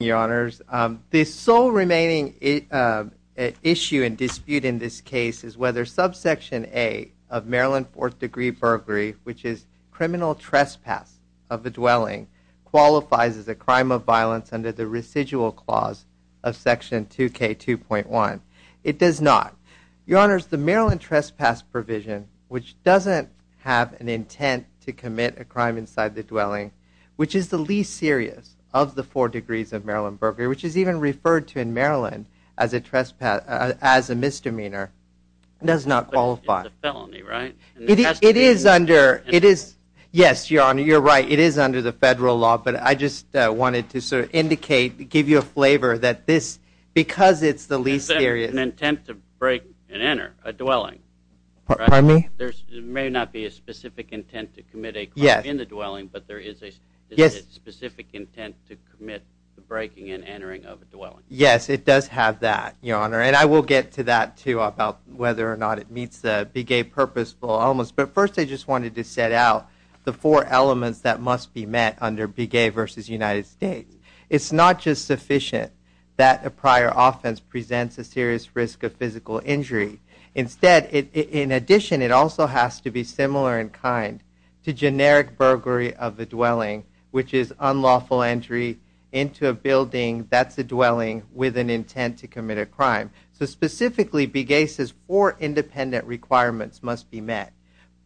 The sole remaining issue and dispute in this case is whether subsection A of Maryland 4th degree burglary, which is criminal trespass of the dwelling, qualifies as a crime of violence under the residual clause of section 2K2.1. It does not. Your Honor, the Maryland trespass provision, which doesn't have an intent to commit a crime inside the dwelling, which is the least serious of the four degrees of Maryland burglary, which is even referred to in Maryland as a misdemeanor, does not qualify. It's a felony, right? It is under, it is, yes, Your Honor, you're right, it is under the federal law, but I just wanted to sort of indicate, give you a flavor that this, because it's the least serious There's an intent to break and enter a dwelling, right? Pardon me? There may not be a specific intent to commit a crime in the dwelling, but there is a specific intent to commit the breaking and entering of a dwelling. Yes, it does have that, Your Honor, and I will get to that, too, about whether or not it meets the Big A purposeful elements, but first I just wanted to set out the four elements that must be met under Big A versus United States. It's not just sufficient that a prior offense presents a serious risk of physical injury. Instead, in addition, it also has to be similar in kind to generic burglary of the dwelling, which is unlawful entry into a building that's a dwelling with an intent to commit a crime. So specifically, Big A's four independent requirements must be met.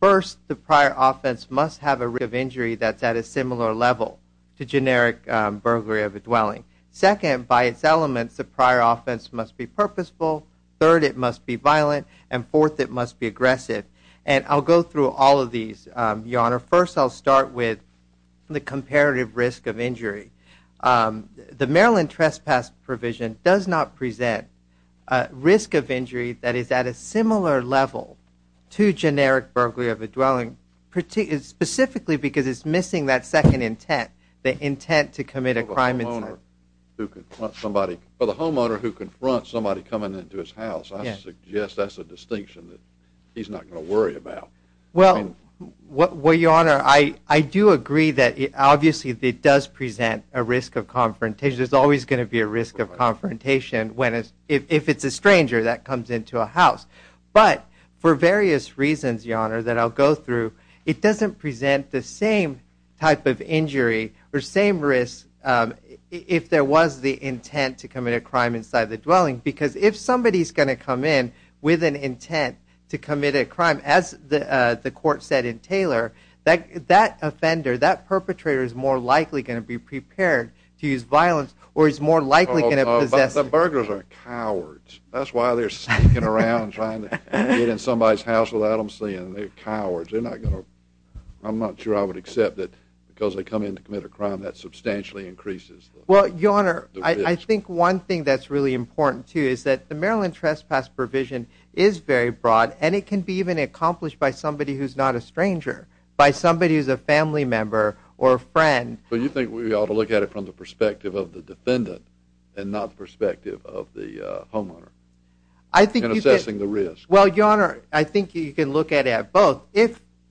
First, the prior offense must have a risk of injury that's at a similar level to generic burglary of a dwelling. Second, by its elements, the prior offense must be purposeful. Third, it must be violent. And fourth, it must be aggressive. And I'll go through all of these, Your Honor. First, I'll start with the comparative risk of injury. The Maryland Trespass Provision does not present a risk of injury that is at a similar level to generic burglary of a dwelling, specifically because it's missing that second intent, the intent to commit a crime. For the homeowner who confronts somebody coming into his house, I suggest that's a distinction that he's not going to worry about. Well, Your Honor, I do agree that obviously it does present a risk of confrontation. There's always going to be a risk of confrontation if it's a stranger that comes into a house. But for various reasons, Your Honor, that I'll go through, it doesn't present the same type of injury or same risk if there was the intent to commit a crime inside the dwelling. Because if somebody's going to come in with an intent to commit a crime, as the court said in Taylor, that offender, that perpetrator is more likely going to be prepared to use violence or is more likely going to possess. The burglars are cowards. That's why they're sneaking around trying to get in somebody's house without them seeing. They're cowards. I'm not sure I would accept that because they come in to commit a crime, that substantially increases the risk. Well, Your Honor, I think one thing that's really important, too, is that the Maryland trespass provision is very broad, and it can be even accomplished by somebody who's not a stranger, by somebody who's a family member or a friend. But you think we ought to look at it from the perspective of the defendant and not the perspective of the homeowner in assessing the risk? Well, Your Honor, I think you can look at it at both.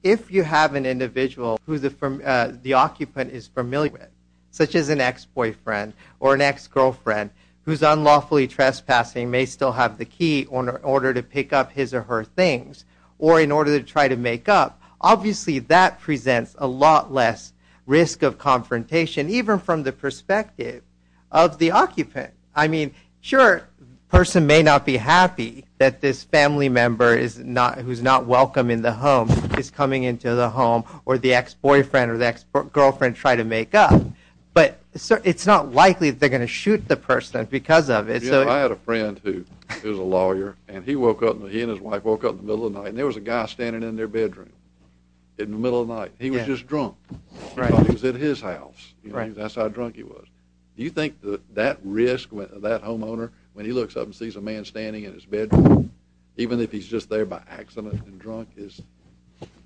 If you have an individual who the occupant is familiar with, such as an ex-boyfriend or an ex-girlfriend, whose unlawfully trespassing may still have the key in order to pick up his or her things or in order to try to make up, obviously that presents a lot less risk of confrontation, even from the perspective of the occupant. I mean, sure, the person may not be happy that this family member who's not welcome in the home is coming into the home where the ex-boyfriend or the ex-girlfriend tried to make up, but it's not likely that they're going to shoot the person because of it. I had a friend who was a lawyer, and he and his wife woke up in the middle of the night, and there was a guy standing in their bedroom in the middle of the night. He was just drunk. He thought he was at his house. That's how drunk he was. Do you think that that risk, that homeowner, when he looks up and sees a man standing in his bedroom, even if he's just there by accident and drunk, is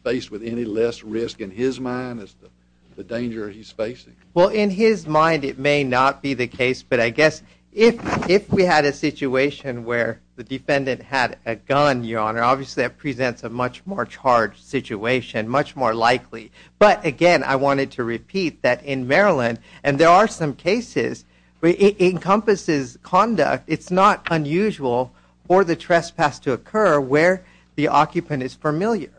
faced with any less risk in his mind as to the danger he's facing? Well, in his mind it may not be the case, but I guess if we had a situation where the defendant had a gun, Your Honor, obviously that presents a much more charged situation, much more likely. But, again, I wanted to repeat that in Maryland, and there are some cases, it encompasses conduct. It's not unusual for the trespass to occur where the occupant is familiar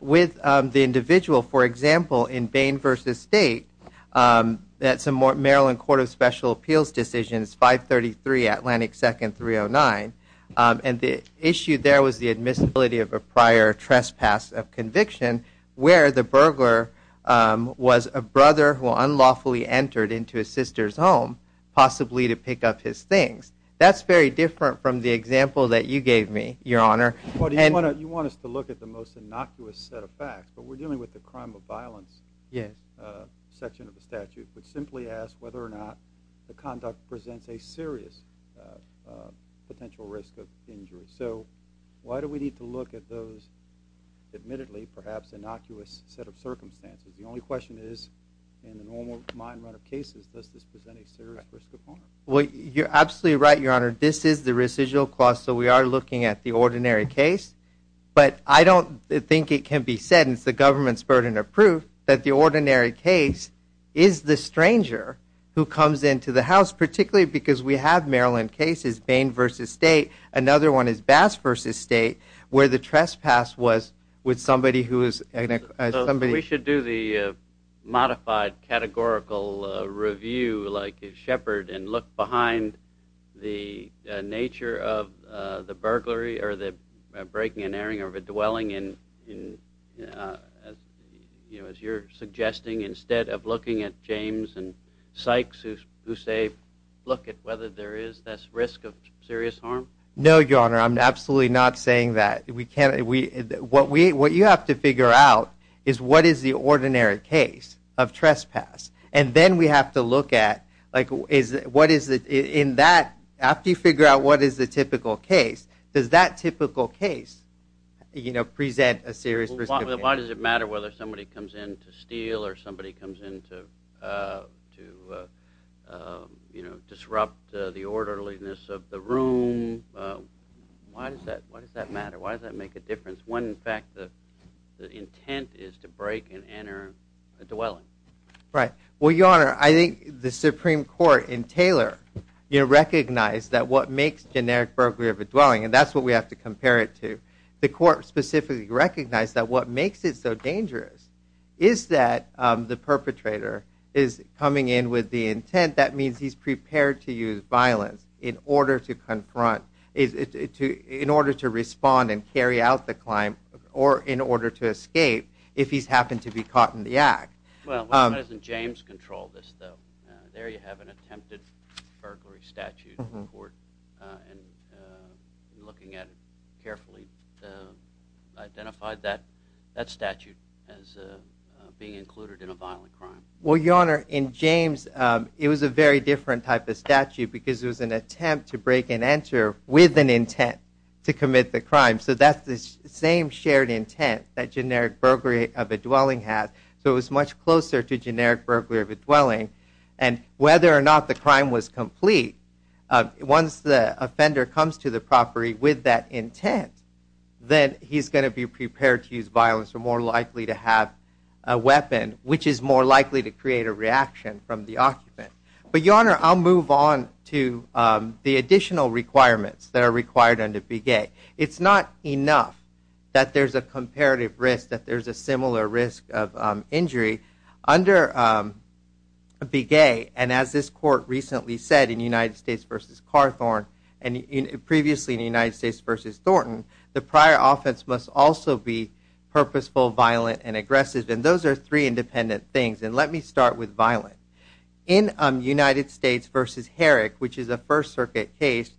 with the individual. For example, in Bain v. State, that's a Maryland Court of Special Appeals decision. It's 533 Atlantic 2nd 309, and the issue there was the admissibility of a prior trespass of conviction where the burglar was a brother who unlawfully entered into his sister's home, possibly to pick up his things. That's very different from the example that you gave me, Your Honor. You want us to look at the most innocuous set of facts, but we're dealing with the crime of violence section of the statute, which simply asks whether or not the conduct presents a serious potential risk of injury. So why do we need to look at those, admittedly, perhaps innocuous set of circumstances? The only question is, in the normal mind run of cases, does this present a serious risk of harm? Well, you're absolutely right, Your Honor. This is the residual cost, so we are looking at the ordinary case. But I don't think it can be said, and it's the government's burden of proof, that the ordinary case is the stranger who comes into the house, particularly because we have Maryland cases, one of which is Bain v. State, another one is Bass v. State, where the trespass was with somebody who is... We should do the modified categorical review like Shepard and look behind the nature of the burglary or the breaking and airing of a dwelling, as you're suggesting, instead of looking at James and Sykes, who say, look at whether there is this risk of serious harm? No, Your Honor, I'm absolutely not saying that. What you have to figure out is what is the ordinary case of trespass. And then we have to look at, after you figure out what is the typical case, why does it matter whether somebody comes in to steal or somebody comes in to disrupt the orderliness of the room? Why does that matter? Why does that make a difference when, in fact, the intent is to break and air a dwelling? Well, Your Honor, I think the Supreme Court in Taylor recognized that what makes generic burglary of a dwelling, and that's what we have to compare it to, the court specifically recognized that what makes it so dangerous is that the perpetrator is coming in with the intent. That means he's prepared to use violence in order to confront, in order to respond and carry out the crime or in order to escape if he's happened to be caught in the act. Well, why doesn't James control this, though? There you have an attempted burglary statute in court, and looking at it carefully, identified that statute as being included in a violent crime. Well, Your Honor, in James, it was a very different type of statute because it was an attempt to break and enter with an intent to commit the crime. So that's the same shared intent that generic burglary of a dwelling has. So it was much closer to generic burglary of a dwelling. And whether or not the crime was complete, once the offender comes to the property with that intent, then he's going to be prepared to use violence or more likely to have a weapon, which is more likely to create a reaction from the occupant. But, Your Honor, I'll move on to the additional requirements that are required under BEGAY. It's not enough that there's a comparative risk, that there's a similar risk of injury. Under BEGAY, and as this court recently said in United States v. Carthorne and previously in United States v. Thornton, the prior offense must also be purposeful, violent, and aggressive. And those are three independent things. And let me start with violent. In United States v. Herrick, which is a First Circuit case,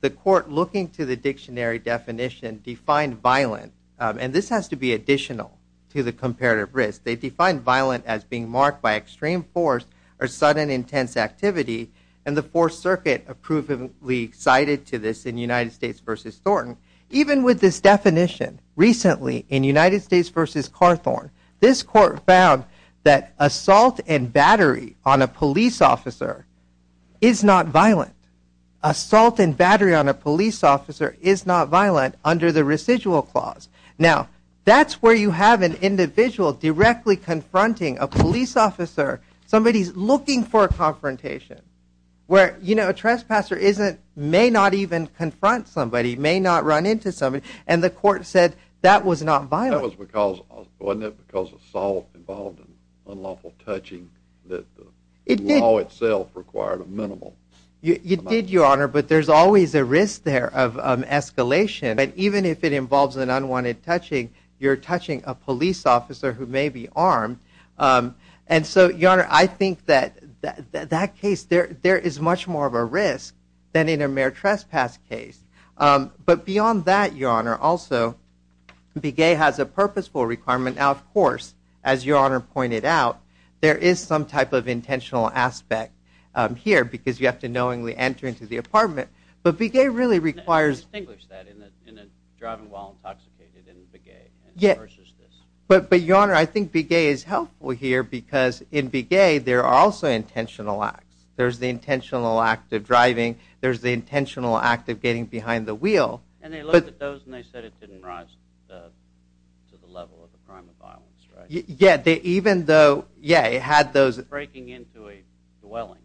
the court, looking to the dictionary definition, defined violent. And this has to be additional to the comparative risk. They defined violent as being marked by extreme force or sudden intense activity. And the Fourth Circuit approvingly cited to this in United States v. Thornton. Even with this definition, recently in United States v. Carthorne, this court found that assault and battery on a police officer is not violent. Assault and battery on a police officer is not violent under the residual clause. Now, that's where you have an individual directly confronting a police officer. Somebody's looking for a confrontation. Where, you know, a trespasser may not even confront somebody, may not run into somebody. And the court said that was not violent. Wasn't it because assault involved unlawful touching that the law itself required a minimal amount? It did, Your Honor, but there's always a risk there of escalation. But even if it involves an unwanted touching, you're touching a police officer who may be armed. And so, Your Honor, I think that that case, there is much more of a risk than in a mere trespass case. But beyond that, Your Honor, also, be gay has a purposeful requirement. Now, of course, as Your Honor pointed out, there is some type of intentional aspect here because you have to knowingly enter into the apartment. But be gay really requires... Distinguish that in a driving while intoxicated in be gay versus this. But Your Honor, I think be gay is helpful here because in be gay there are also intentional acts. There's the intentional act of driving. There's the intentional act of getting behind the wheel. And they looked at those and they said it didn't rise to the level of a crime of violence, right? Yeah, even though, yeah, it had those... Breaking into a dwelling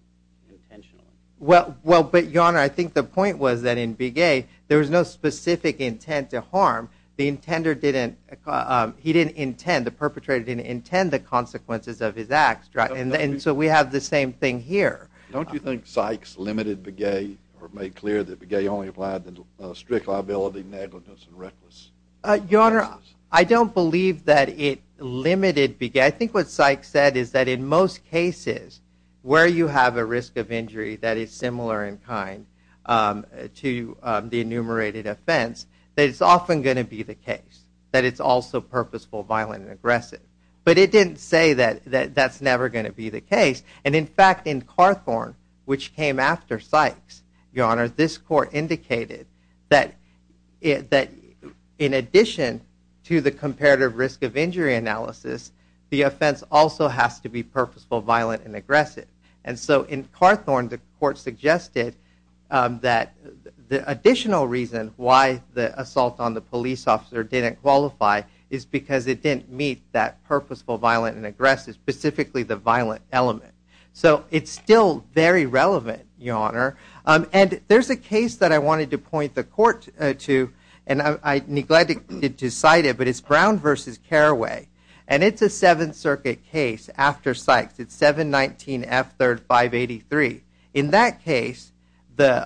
intentionally. Well, but Your Honor, I think the point was that in be gay there was no specific intent to harm. The intender didn't, he didn't intend, the perpetrator didn't intend the consequences of his acts. And so we have the same thing here. Don't you think Sykes limited be gay or made clear that be gay only applied to strict liability, negligence, and reckless? Your Honor, I don't believe that it limited be gay. I think what Sykes said is that in most cases where you have a risk of injury that is similar in kind to the enumerated offense, that it's often going to be the case that it's also purposeful, violent, and aggressive. But it didn't say that that's never going to be the case. And in fact, in Carthorne, which came after Sykes, Your Honor, this court indicated that in addition to the comparative risk of injury analysis, the offense also has to be purposeful, violent, and aggressive. And so in Carthorne, the court suggested that the additional reason why the assault on the police officer didn't qualify is because it didn't meet that purposeful, violent, and aggressive, specifically the violent element. So it's still very relevant, Your Honor. And there's a case that I wanted to point the court to, and I neglected to cite it, but it's Brown v. Carraway. And it's a Seventh Circuit case after Sykes. It's 719F3583. In that case, the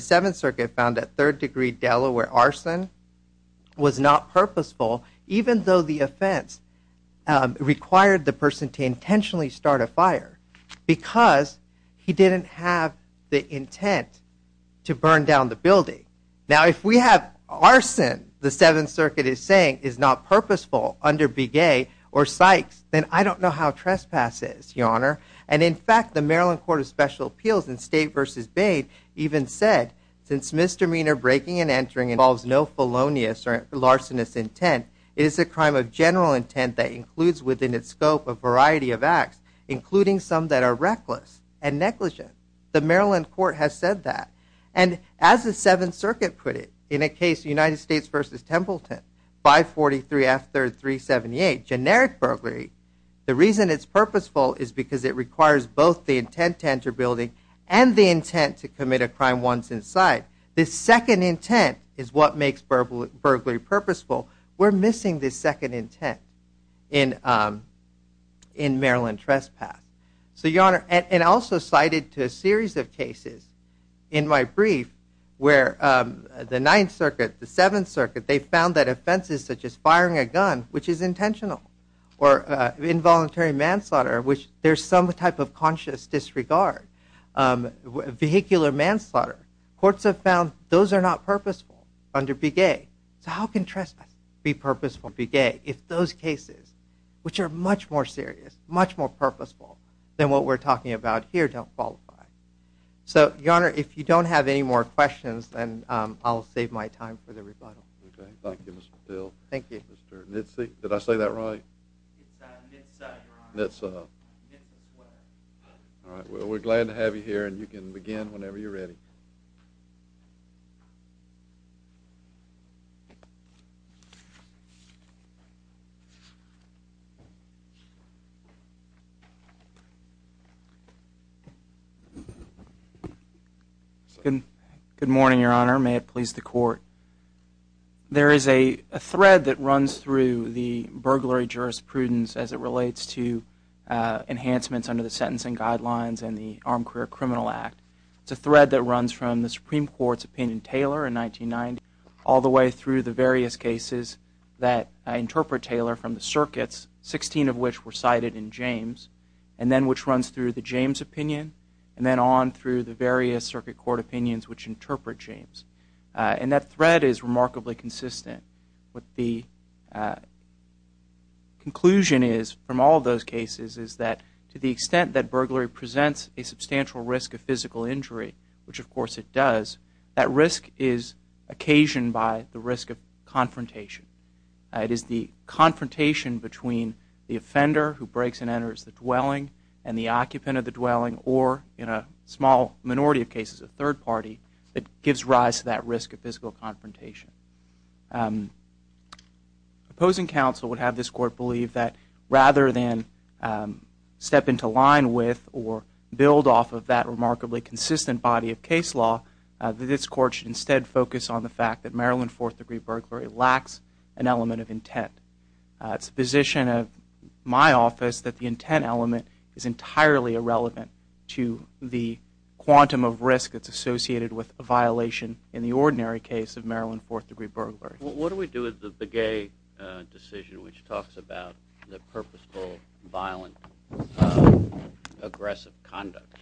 Seventh Circuit found that third-degree Delaware arson was not purposeful, even though the offense required the person to intentionally start a fire because he didn't have the intent to burn down the building. Now, if we have arson, the Seventh Circuit is saying, is not purposeful under Begay or Sykes, then I don't know how trespass is, Your Honor. And in fact, the Maryland Court of Special Appeals in State v. Bain even said, since misdemeanor breaking and entering involves no felonious or larcenous intent, it is a crime of general intent that includes within its scope a variety of acts, including some that are reckless and negligent. The Maryland Court has said that. And as the Seventh Circuit put it in a case, United States v. Templeton, 543F3378, generic burglary, the reason it's purposeful is because it requires both the intent to enter a building and the intent to commit a crime once inside. This second intent is what makes burglary purposeful. We're missing this second intent in Maryland trespass. So, Your Honor, and also cited to a series of cases in my brief where the Ninth Circuit, the Seventh Circuit, they found that offenses such as firing a gun, which is intentional, or involuntary manslaughter, which there's some type of conscious disregard, vehicular manslaughter, courts have found those are not purposeful under Begay. So how can trespass be purposeful under Begay if those cases, which are much more serious, much more purposeful, than what we're talking about here, don't qualify? So, Your Honor, if you don't have any more questions, then I'll save my time for the rebuttal. Okay. Thank you, Mr. Patil. Thank you. Mr. Nitze, did I say that right? It's Nitza, Your Honor. Nitza. Nitza's wife. All right. Well, we're glad to have you here, and you can begin whenever you're ready. Good morning, Your Honor. May it please the Court. There is a thread that runs through the burglary jurisprudence as it relates to enhancements under the Sentencing Guidelines and the Armed Career Criminal Act. It's a thread that runs from the Supreme Court's opinion in Taylor in 1990 all the way through the various cases that interpret Taylor from the circuits, 16 of which were cited in James, and then which runs through the James opinion, and then on through the various circuit court opinions which interpret James. And that thread is remarkably consistent. What the conclusion is from all of those cases is that to the extent that burglary presents a substantial risk of physical injury, which of course it does, that risk is occasioned by the risk of confrontation. It is the confrontation between the offender who breaks and enters the dwelling and the occupant of the dwelling or, in a small minority of cases, a third party, that gives rise to that risk of physical confrontation. Opposing counsel would have this Court believe that rather than step into line with or build off of that remarkably consistent body of case law, that this Court should instead focus on the fact that Maryland fourth-degree burglary lacks an element of intent. It's the position of my office that the intent element is entirely irrelevant to the quantum of risk that's associated with a violation in the ordinary case of Maryland fourth-degree burglary. What do we do with the Begay decision which talks about the purposeful, violent, aggressive conduct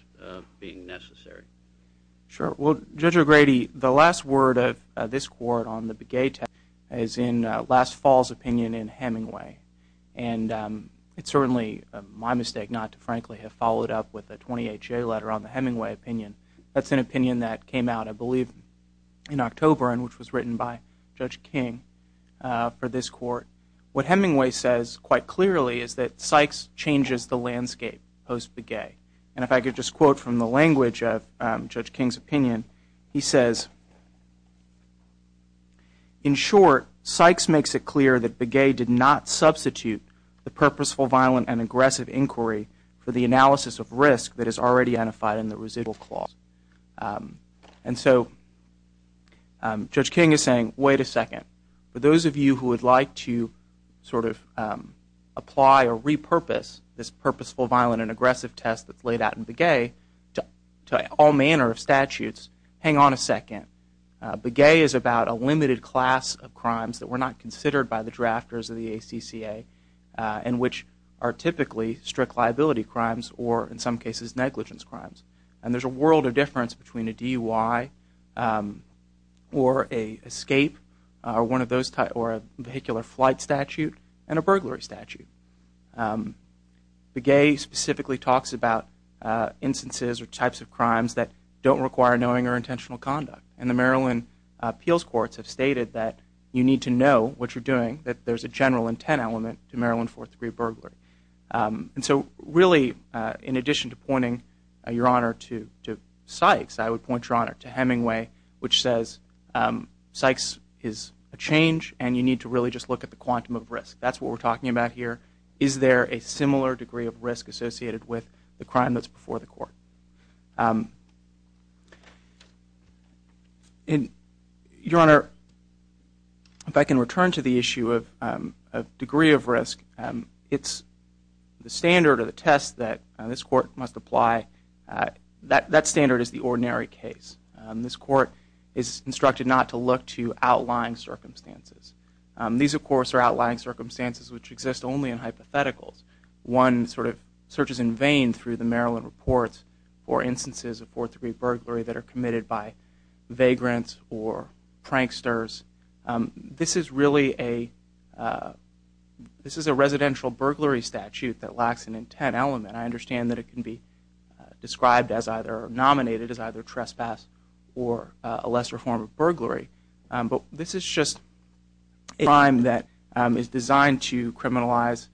being necessary? Sure. Well, Judge O'Grady, the last word of this Court on the Begay test is in last fall's opinion in Hemingway. And it's certainly my mistake not to, frankly, have followed up with a 28-J letter on the Hemingway opinion. That's an opinion that came out, I believe, in October and which was written by Judge King for this Court. What Hemingway says quite clearly is that Sykes changes the landscape post-Begay. And if I could just quote from the language of Judge King's opinion, he says, In short, Sykes makes it clear that Begay did not substitute the purposeful, violent, and aggressive inquiry for the analysis of risk that is already unified in the residual clause. And so Judge King is saying, wait a second. For those of you who would like to sort of apply or repurpose this purposeful, violent, and aggressive test that's laid out in Begay to all manner of statutes, hang on a second. Begay is about a limited class of crimes that were not considered by the drafters of the ACCA and which are typically strict liability crimes or, in some cases, negligence crimes. And there's a world of difference between a DUI or an escape or a vehicular flight statute and a burglary statute. Begay specifically talks about instances or types of crimes that don't require knowing or intentional conduct. And the Maryland appeals courts have stated that you need to know what you're doing, that there's a general intent element to Maryland Fourth Degree Burglary. And so really, in addition to pointing your honor to Sykes, I would point your honor to Hemingway, which says Sykes is a change and you need to really just look at the quantum of risk. That's what we're talking about here. Is there a similar degree of risk associated with the crime that's before the court? Your honor, if I can return to the issue of degree of risk, it's the standard or the test that this court must apply. That standard is the ordinary case. This court is instructed not to look to outlying circumstances. These, of course, are outlying circumstances which exist only in hypotheticals. One sort of searches in vain through the Maryland reports for instances of Fourth Degree Burglary that are committed by vagrants or pranksters. This is really a residential burglary statute that lacks an intent element. I understand that it can be described as either nominated as either trespass or a lesser form of burglary. But this is just a crime that is designed to criminalize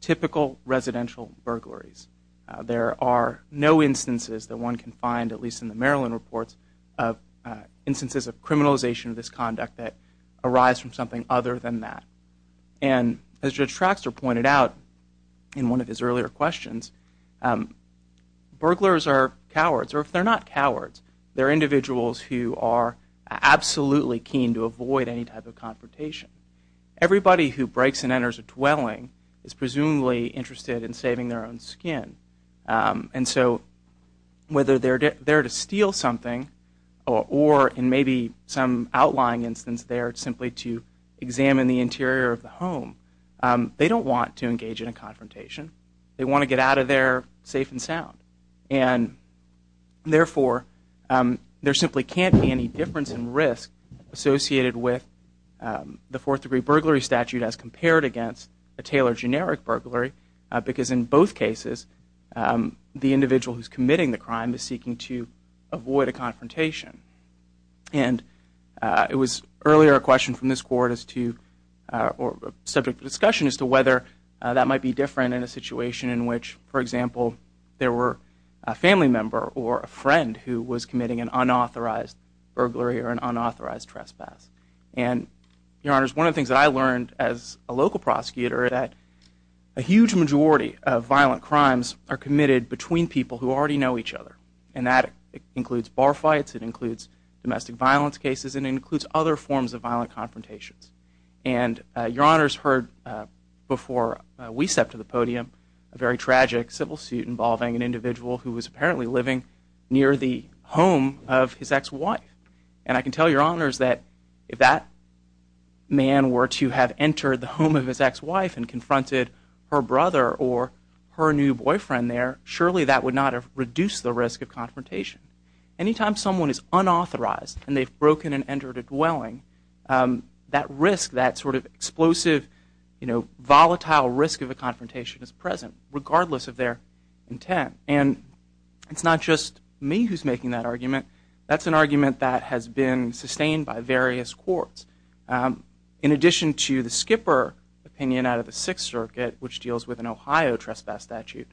typical residential burglaries. There are no instances that one can find, at least in the Maryland reports, of instances of criminalization of this conduct that arise from something other than that. And as Judge Traxtor pointed out in one of his earlier questions, burglars are cowards, or if they're not cowards, they're individuals who are absolutely keen to avoid any type of confrontation. Everybody who breaks and enters a dwelling is presumably interested in saving their own skin. And so whether they're there to steal something or, in maybe some outlying instance there, simply to examine the interior of the home, they don't want to engage in a confrontation. They want to get out of there safe and sound. And therefore, there simply can't be any difference in risk associated with the Fourth Degree Burglary Statute as compared against a Taylor generic burglary, because in both cases, the individual who's committing the crime is seeking to avoid a confrontation. And it was earlier a question from this Court as to, or subject to discussion, as to whether that might be different in a situation in which, for example, there were a family member or a friend who was committing an unauthorized burglary or an unauthorized trespass. And, Your Honors, one of the things that I learned as a local prosecutor, that a huge majority of violent crimes are committed between people who already know each other. And that includes bar fights, it includes domestic violence cases, and it includes other forms of violent confrontations. And Your Honors heard before we stepped to the podium a very tragic civil suit involving an individual who was apparently living near the home of his ex-wife. And I can tell Your Honors that if that man were to have entered the home of his ex-wife and confronted her brother or her new boyfriend there, surely that would not have reduced the risk of confrontation. Anytime someone is unauthorized and they've broken and entered a dwelling, that risk, that sort of explosive, you know, volatile risk of a confrontation is present, regardless of their intent. And it's not just me who's making that argument. That's an argument that has been sustained by various courts. In addition to the Skipper opinion out of the Sixth Circuit, which deals with an Ohio trespass statute,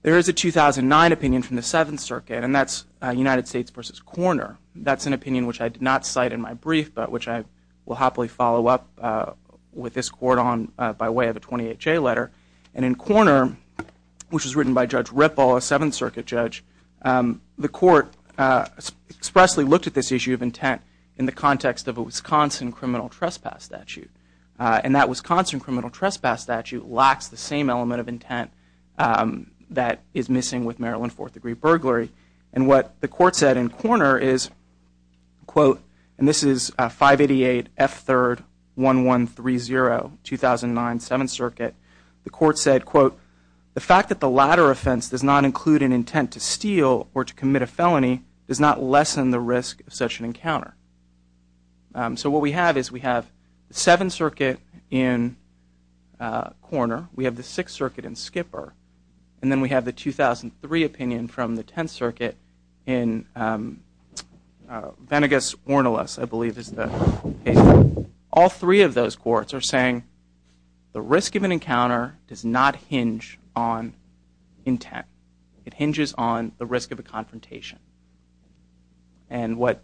there is a 2009 opinion from the Seventh Circuit, and that's United States v. Korner. That's an opinion which I did not cite in my brief, but which I will happily follow up with this court on by way of a 28-J letter. And in Korner, which was written by Judge Ripple, a Seventh Circuit judge, the court expressly looked at this issue of intent in the context of a Wisconsin criminal trespass statute. And that Wisconsin criminal trespass statute lacks the same element of intent that is missing with Maryland fourth-degree burglary. And what the court said in Korner is, quote, and this is 588 F. 3rd, 1130, 2009, Seventh Circuit. The court said, quote, the fact that the latter offense does not include an intent to steal or to commit a felony does not lessen the risk of such an encounter. So what we have is we have the Seventh Circuit in Korner, we have the Sixth Circuit in Skipper, and then we have the 2003 opinion from the Tenth Circuit in Venegas-Warnalas, I believe is the case. All three of those courts are saying the risk of an encounter does not hinge on intent. It hinges on the risk of a confrontation. And what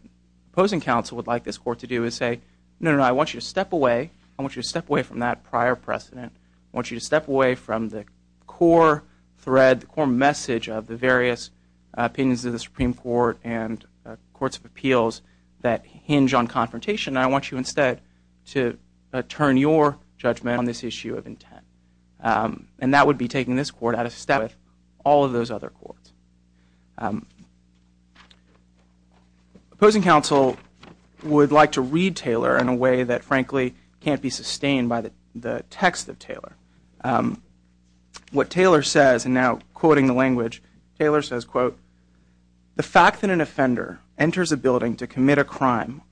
opposing counsel would like this court to do is say, no, no, no, I want you to step away. I want you to step away from that prior precedent. I want you to step away from the core thread, the core message of the various opinions of the Supreme Court and courts of appeals that hinge on confrontation. I want you instead to turn your judgment on this issue of intent. And that would be taking this court out of step with all of those other courts. Opposing counsel would like to read Taylor in a way that, frankly, can't be sustained by the text of Taylor. What Taylor says, and now quoting the language, Taylor says, quote, the fact that an offender enters a building to commit a crime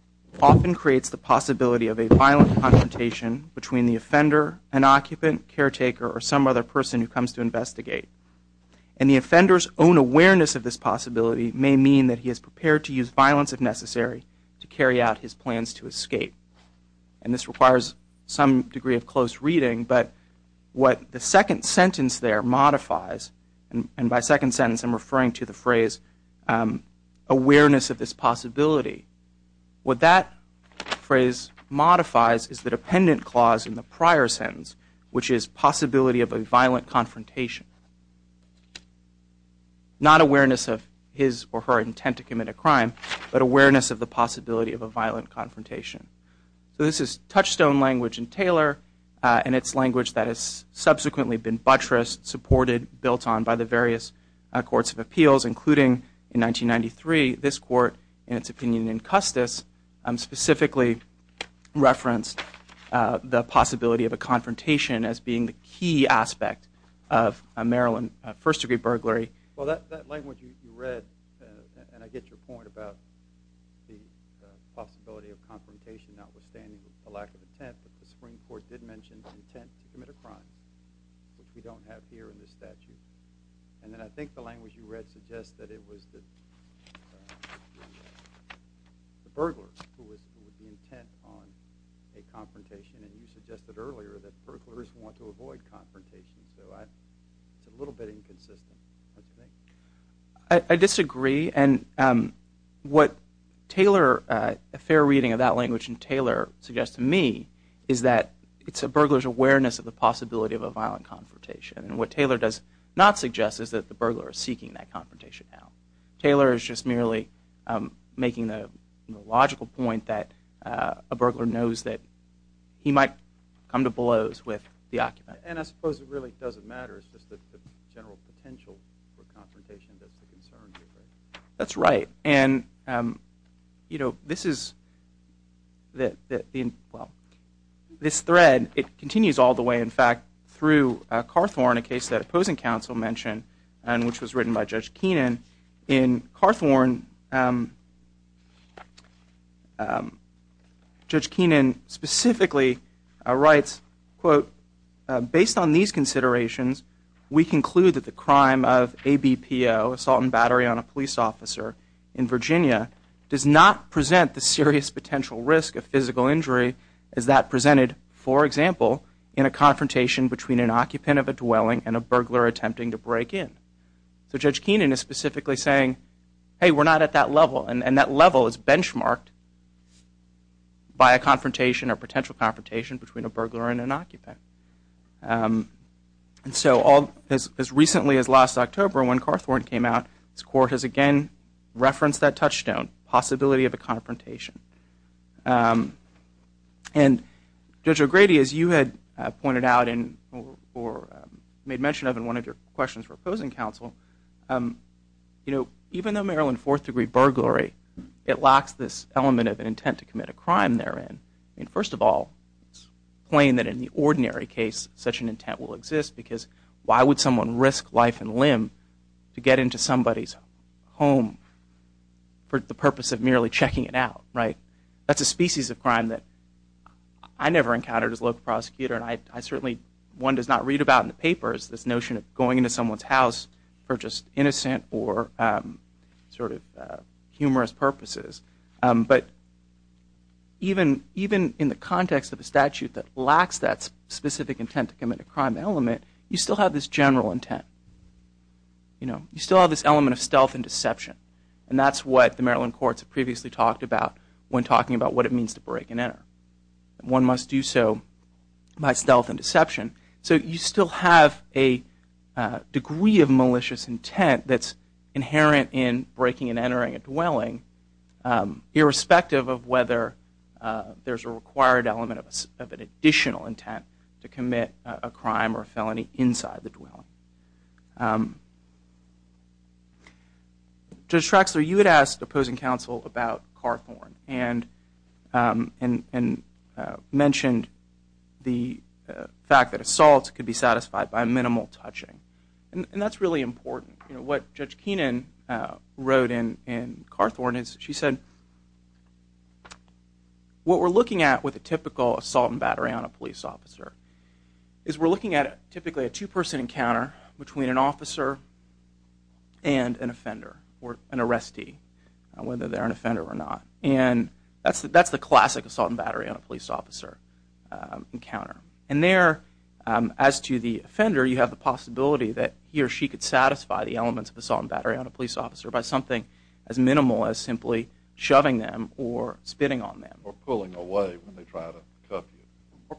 often creates the possibility of a violent confrontation between the offender, an occupant, caretaker, or some other person who comes to investigate. And the offender's own awareness of this possibility may mean that he is prepared to use violence if necessary to carry out his plans to escape. And this requires some degree of close reading, but what the second sentence there modifies, and by second sentence I'm referring to the phrase awareness of this possibility, what that phrase modifies is the dependent clause in the prior sentence, which is possibility of a violent confrontation. Not awareness of his or her intent to commit a crime, but awareness of the possibility of a violent confrontation. So this is touchstone language in Taylor, and it's language that has subsequently been buttressed, supported, built on by the various courts of appeals, including in 1993 this court, in its opinion in Custis, specifically referenced the possibility of a confrontation as being the key aspect of a Maryland first-degree burglary. Well, that language you read, and I get your point about the possibility of confrontation notwithstanding the lack of intent, but the Supreme Court did mention the intent to commit a crime, which we don't have here in the statute. And then I think the language you read suggests that it was the burglars who were the intent on a confrontation, and you suggested earlier that burglars want to avoid confrontation. So it's a little bit inconsistent, don't you think? I disagree, and what Taylor, a fair reading of that language in Taylor suggests to me, is that it's a burglar's awareness of the possibility of a violent confrontation. And what Taylor does not suggest is that the burglar is seeking that confrontation out. Taylor is just merely making the logical point that a burglar knows that he might come to blows with the occupant. And I suppose it really doesn't matter, it's just the general potential for confrontation that's the concern here, right? That's right. And this thread, it continues all the way, in fact, through Carthorne, a case that opposing counsel mentioned, and which was written by Judge Keenan. In Carthorne, Judge Keenan specifically writes, quote, Based on these considerations, we conclude that the crime of ABPO, assault and battery on a police officer in Virginia, does not present the serious potential risk of physical injury as that presented, for example, in a confrontation between an occupant of a dwelling and a burglar attempting to break in. So Judge Keenan is specifically saying, hey, we're not at that level, and that level is benchmarked by a confrontation or potential confrontation between a burglar and an occupant. And so as recently as last October, when Carthorne came out, this court has again referenced that touchstone, possibility of a confrontation. And Judge O'Grady, as you had pointed out or made mention of in one of your questions for opposing counsel, you know, even though Maryland Fourth Degree burglary, it lacks this element of an intent to commit a crime therein. I mean, first of all, it's plain that in the ordinary case, such an intent will exist, because why would someone risk life and limb to get into somebody's home for the purpose of merely checking it out, right? That's a species of crime that I never encountered as a local prosecutor, and I certainly, one does not read about in the papers this notion of going into someone's house for just innocent or sort of humorous purposes. But even in the context of a statute that lacks that specific intent to commit a crime element, you still have this general intent. You know, you still have this element of stealth and deception, and that's what the Maryland courts have previously talked about when talking about what it means to break and enter. One must do so by stealth and deception. So you still have a degree of malicious intent that's inherent in breaking and entering a dwelling, irrespective of whether there's a required element of an additional intent to commit a crime or felony inside the dwelling. Judge Traxler, you had asked opposing counsel about Carthorne and mentioned the fact that assaults could be satisfied by minimal touching, and that's really important. You know, what Judge Keenan wrote in Carthorne is she said, what we're looking at with a typical assault and battery on a police officer is we're looking at typically a two-person encounter between an officer and an offender or an arrestee, whether they're an offender or not. And that's the classic assault and battery on a police officer encounter. And there, as to the offender, you have the possibility that he or she could satisfy the elements of assault and battery on a police officer by something as minimal as simply shoving them or spitting on them. Or pulling away when they try to cuff you.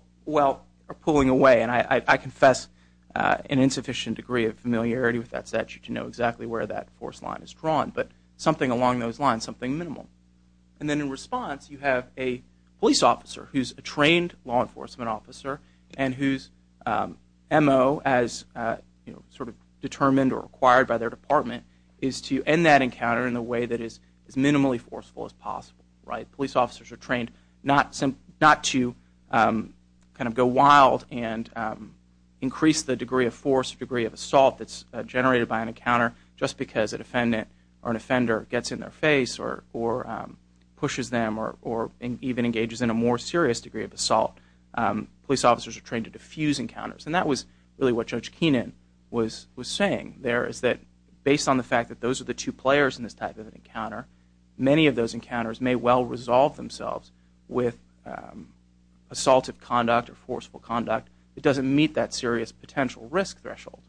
Or pulling away, and I confess an insufficient degree of familiarity with that statute to know exactly where that force line is drawn, but something along those lines, something minimal. And then in response, you have a police officer who's a trained law enforcement officer and whose M.O. as sort of determined or acquired by their department is to end that encounter in a way that is as minimally forceful as possible. Right, police officers are trained not to kind of go wild and increase the degree of force or degree of assault that's generated by an encounter just because a defendant or an offender gets in their face or pushes them or even engages in a more serious degree of assault. Police officers are trained to defuse encounters. And that was really what Judge Kenan was saying there, is that based on the fact that those are the two players in this type of encounter, many of those encounters may well resolve themselves with assaultive conduct or forceful conduct that doesn't meet that serious potential risk threshold.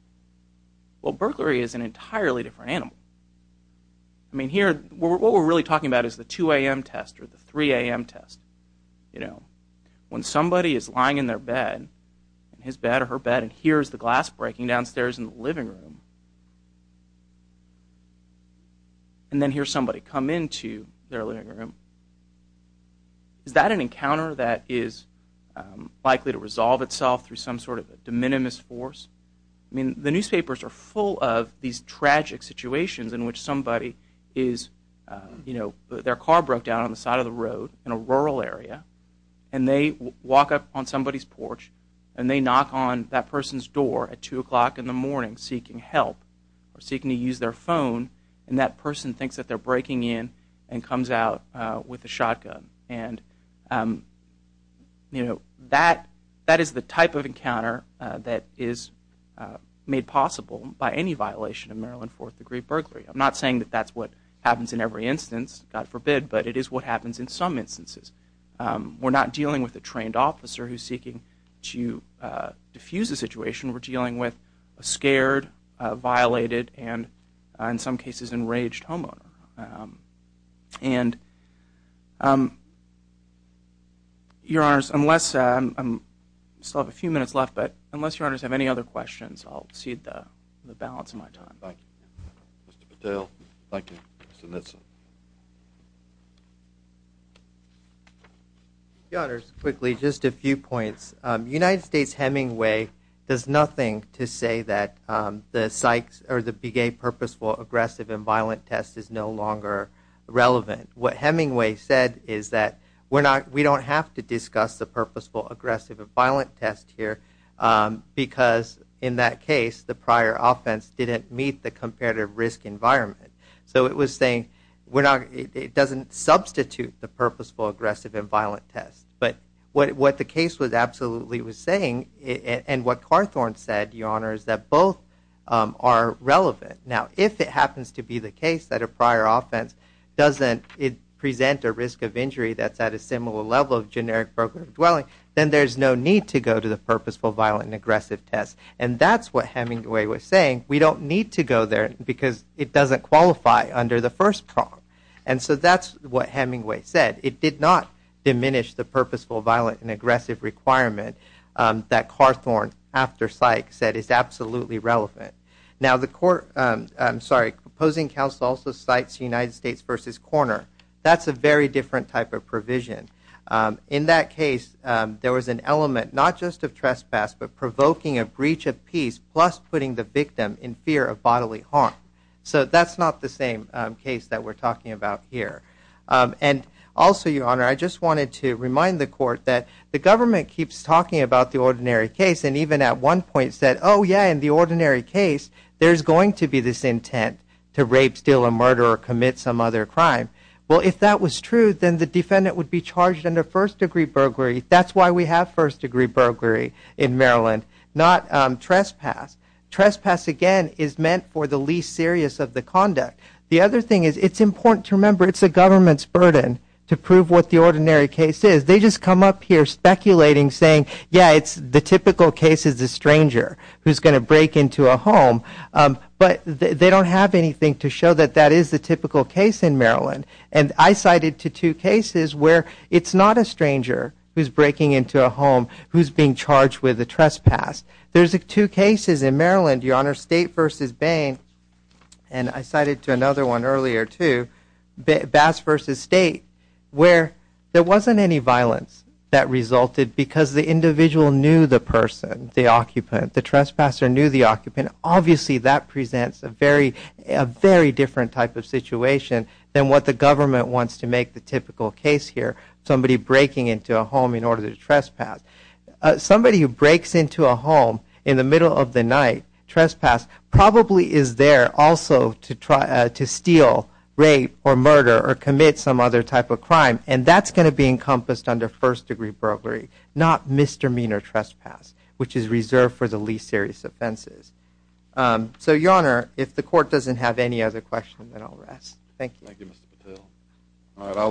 Well, burglary is an entirely different animal. I mean, here, what we're really talking about is the 2 a.m. test or the 3 a.m. test. You know, when somebody is lying in their bed, his bed or her bed, and hears the glass breaking downstairs in the living room, and then hears somebody come into their living room, is that an encounter that is likely to resolve itself through some sort of de minimis force? I mean, the newspapers are full of these tragic situations in which somebody is, you know, their car broke down on the side of the road in a rural area, and they walk up on somebody's porch and they knock on that person's door at 2 o'clock in the morning seeking help or seeking to use their phone, and that person thinks that they're breaking in and comes out with a shotgun. And, you know, that is the type of encounter that is made possible by any violation of Maryland Fourth Degree Burglary. I'm not saying that that's what happens in every instance, God forbid, but it is what happens in some instances. We're not dealing with a trained officer who's seeking to defuse a situation. We're dealing with a scared, violated, and in some cases enraged homeowner. And, Your Honors, unless I still have a few minutes left, but unless Your Honors have any other questions, I'll cede the balance of my time. Thank you. Mr. Patel. Thank you. Mr. Knutson. Your Honors, quickly, just a few points. United States Hemingway does nothing to say that the psychs or the big A purposeful, aggressive, and violent test is no longer relevant. What Hemingway said is that we don't have to discuss the purposeful, aggressive, and violent test here because, in that case, the prior offense didn't meet the comparative risk environment. So it was saying it doesn't substitute the purposeful, aggressive, and violent test. But what the case absolutely was saying, and what Carthorne said, Your Honors, that both are relevant. Now, if it happens to be the case that a prior offense doesn't present a risk of injury that's at a similar level of generic broker dwelling, then there's no need to go to the purposeful, violent, and aggressive test. And that's what Hemingway was saying. We don't need to go there because it doesn't qualify under the first prong. And so that's what Hemingway said. It did not diminish the purposeful, violent, and aggressive requirement that Carthorne, after psych, said is absolutely relevant. Now, the court, I'm sorry, proposing counsel also cites United States v. Korner. That's a very different type of provision. In that case, there was an element not just of trespass but provoking a breach of peace plus putting the victim in fear of bodily harm. So that's not the same case that we're talking about here. And also, Your Honor, I just wanted to remind the court that the government keeps talking about the ordinary case and even at one point said, oh, yeah, in the ordinary case, there's going to be this intent to rape, steal, and murder or commit some other crime. Well, if that was true, then the defendant would be charged under first-degree burglary. That's why we have first-degree burglary in Maryland, not trespass. Trespass, again, is meant for the least serious of the conduct. The other thing is it's important to remember it's the government's burden to prove what the ordinary case is. They just come up here speculating, saying, yeah, it's the typical case is a stranger who's going to break into a home. But they don't have anything to show that that is the typical case in Maryland. And I cited to two cases where it's not a stranger who's breaking into a home who's being charged with a trespass. There's two cases in Maryland, Your Honor, State v. Bain, and I cited to another one earlier too, Bass v. State, where there wasn't any violence that resulted because the individual knew the person, the occupant, the trespasser knew the occupant. Obviously, that presents a very different type of situation than what the government wants to make the typical case here, somebody breaking into a home in order to trespass. Somebody who breaks into a home in the middle of the night, trespass probably is there also to try to steal, rape, or murder or commit some other type of crime, and that's going to be encompassed under first-degree burglary, not misdemeanor trespass, which is reserved for the least serious offenses. So, Your Honor, if the Court doesn't have any other questions, then I'll rest. Thank you. Thank you, Mr. Patel.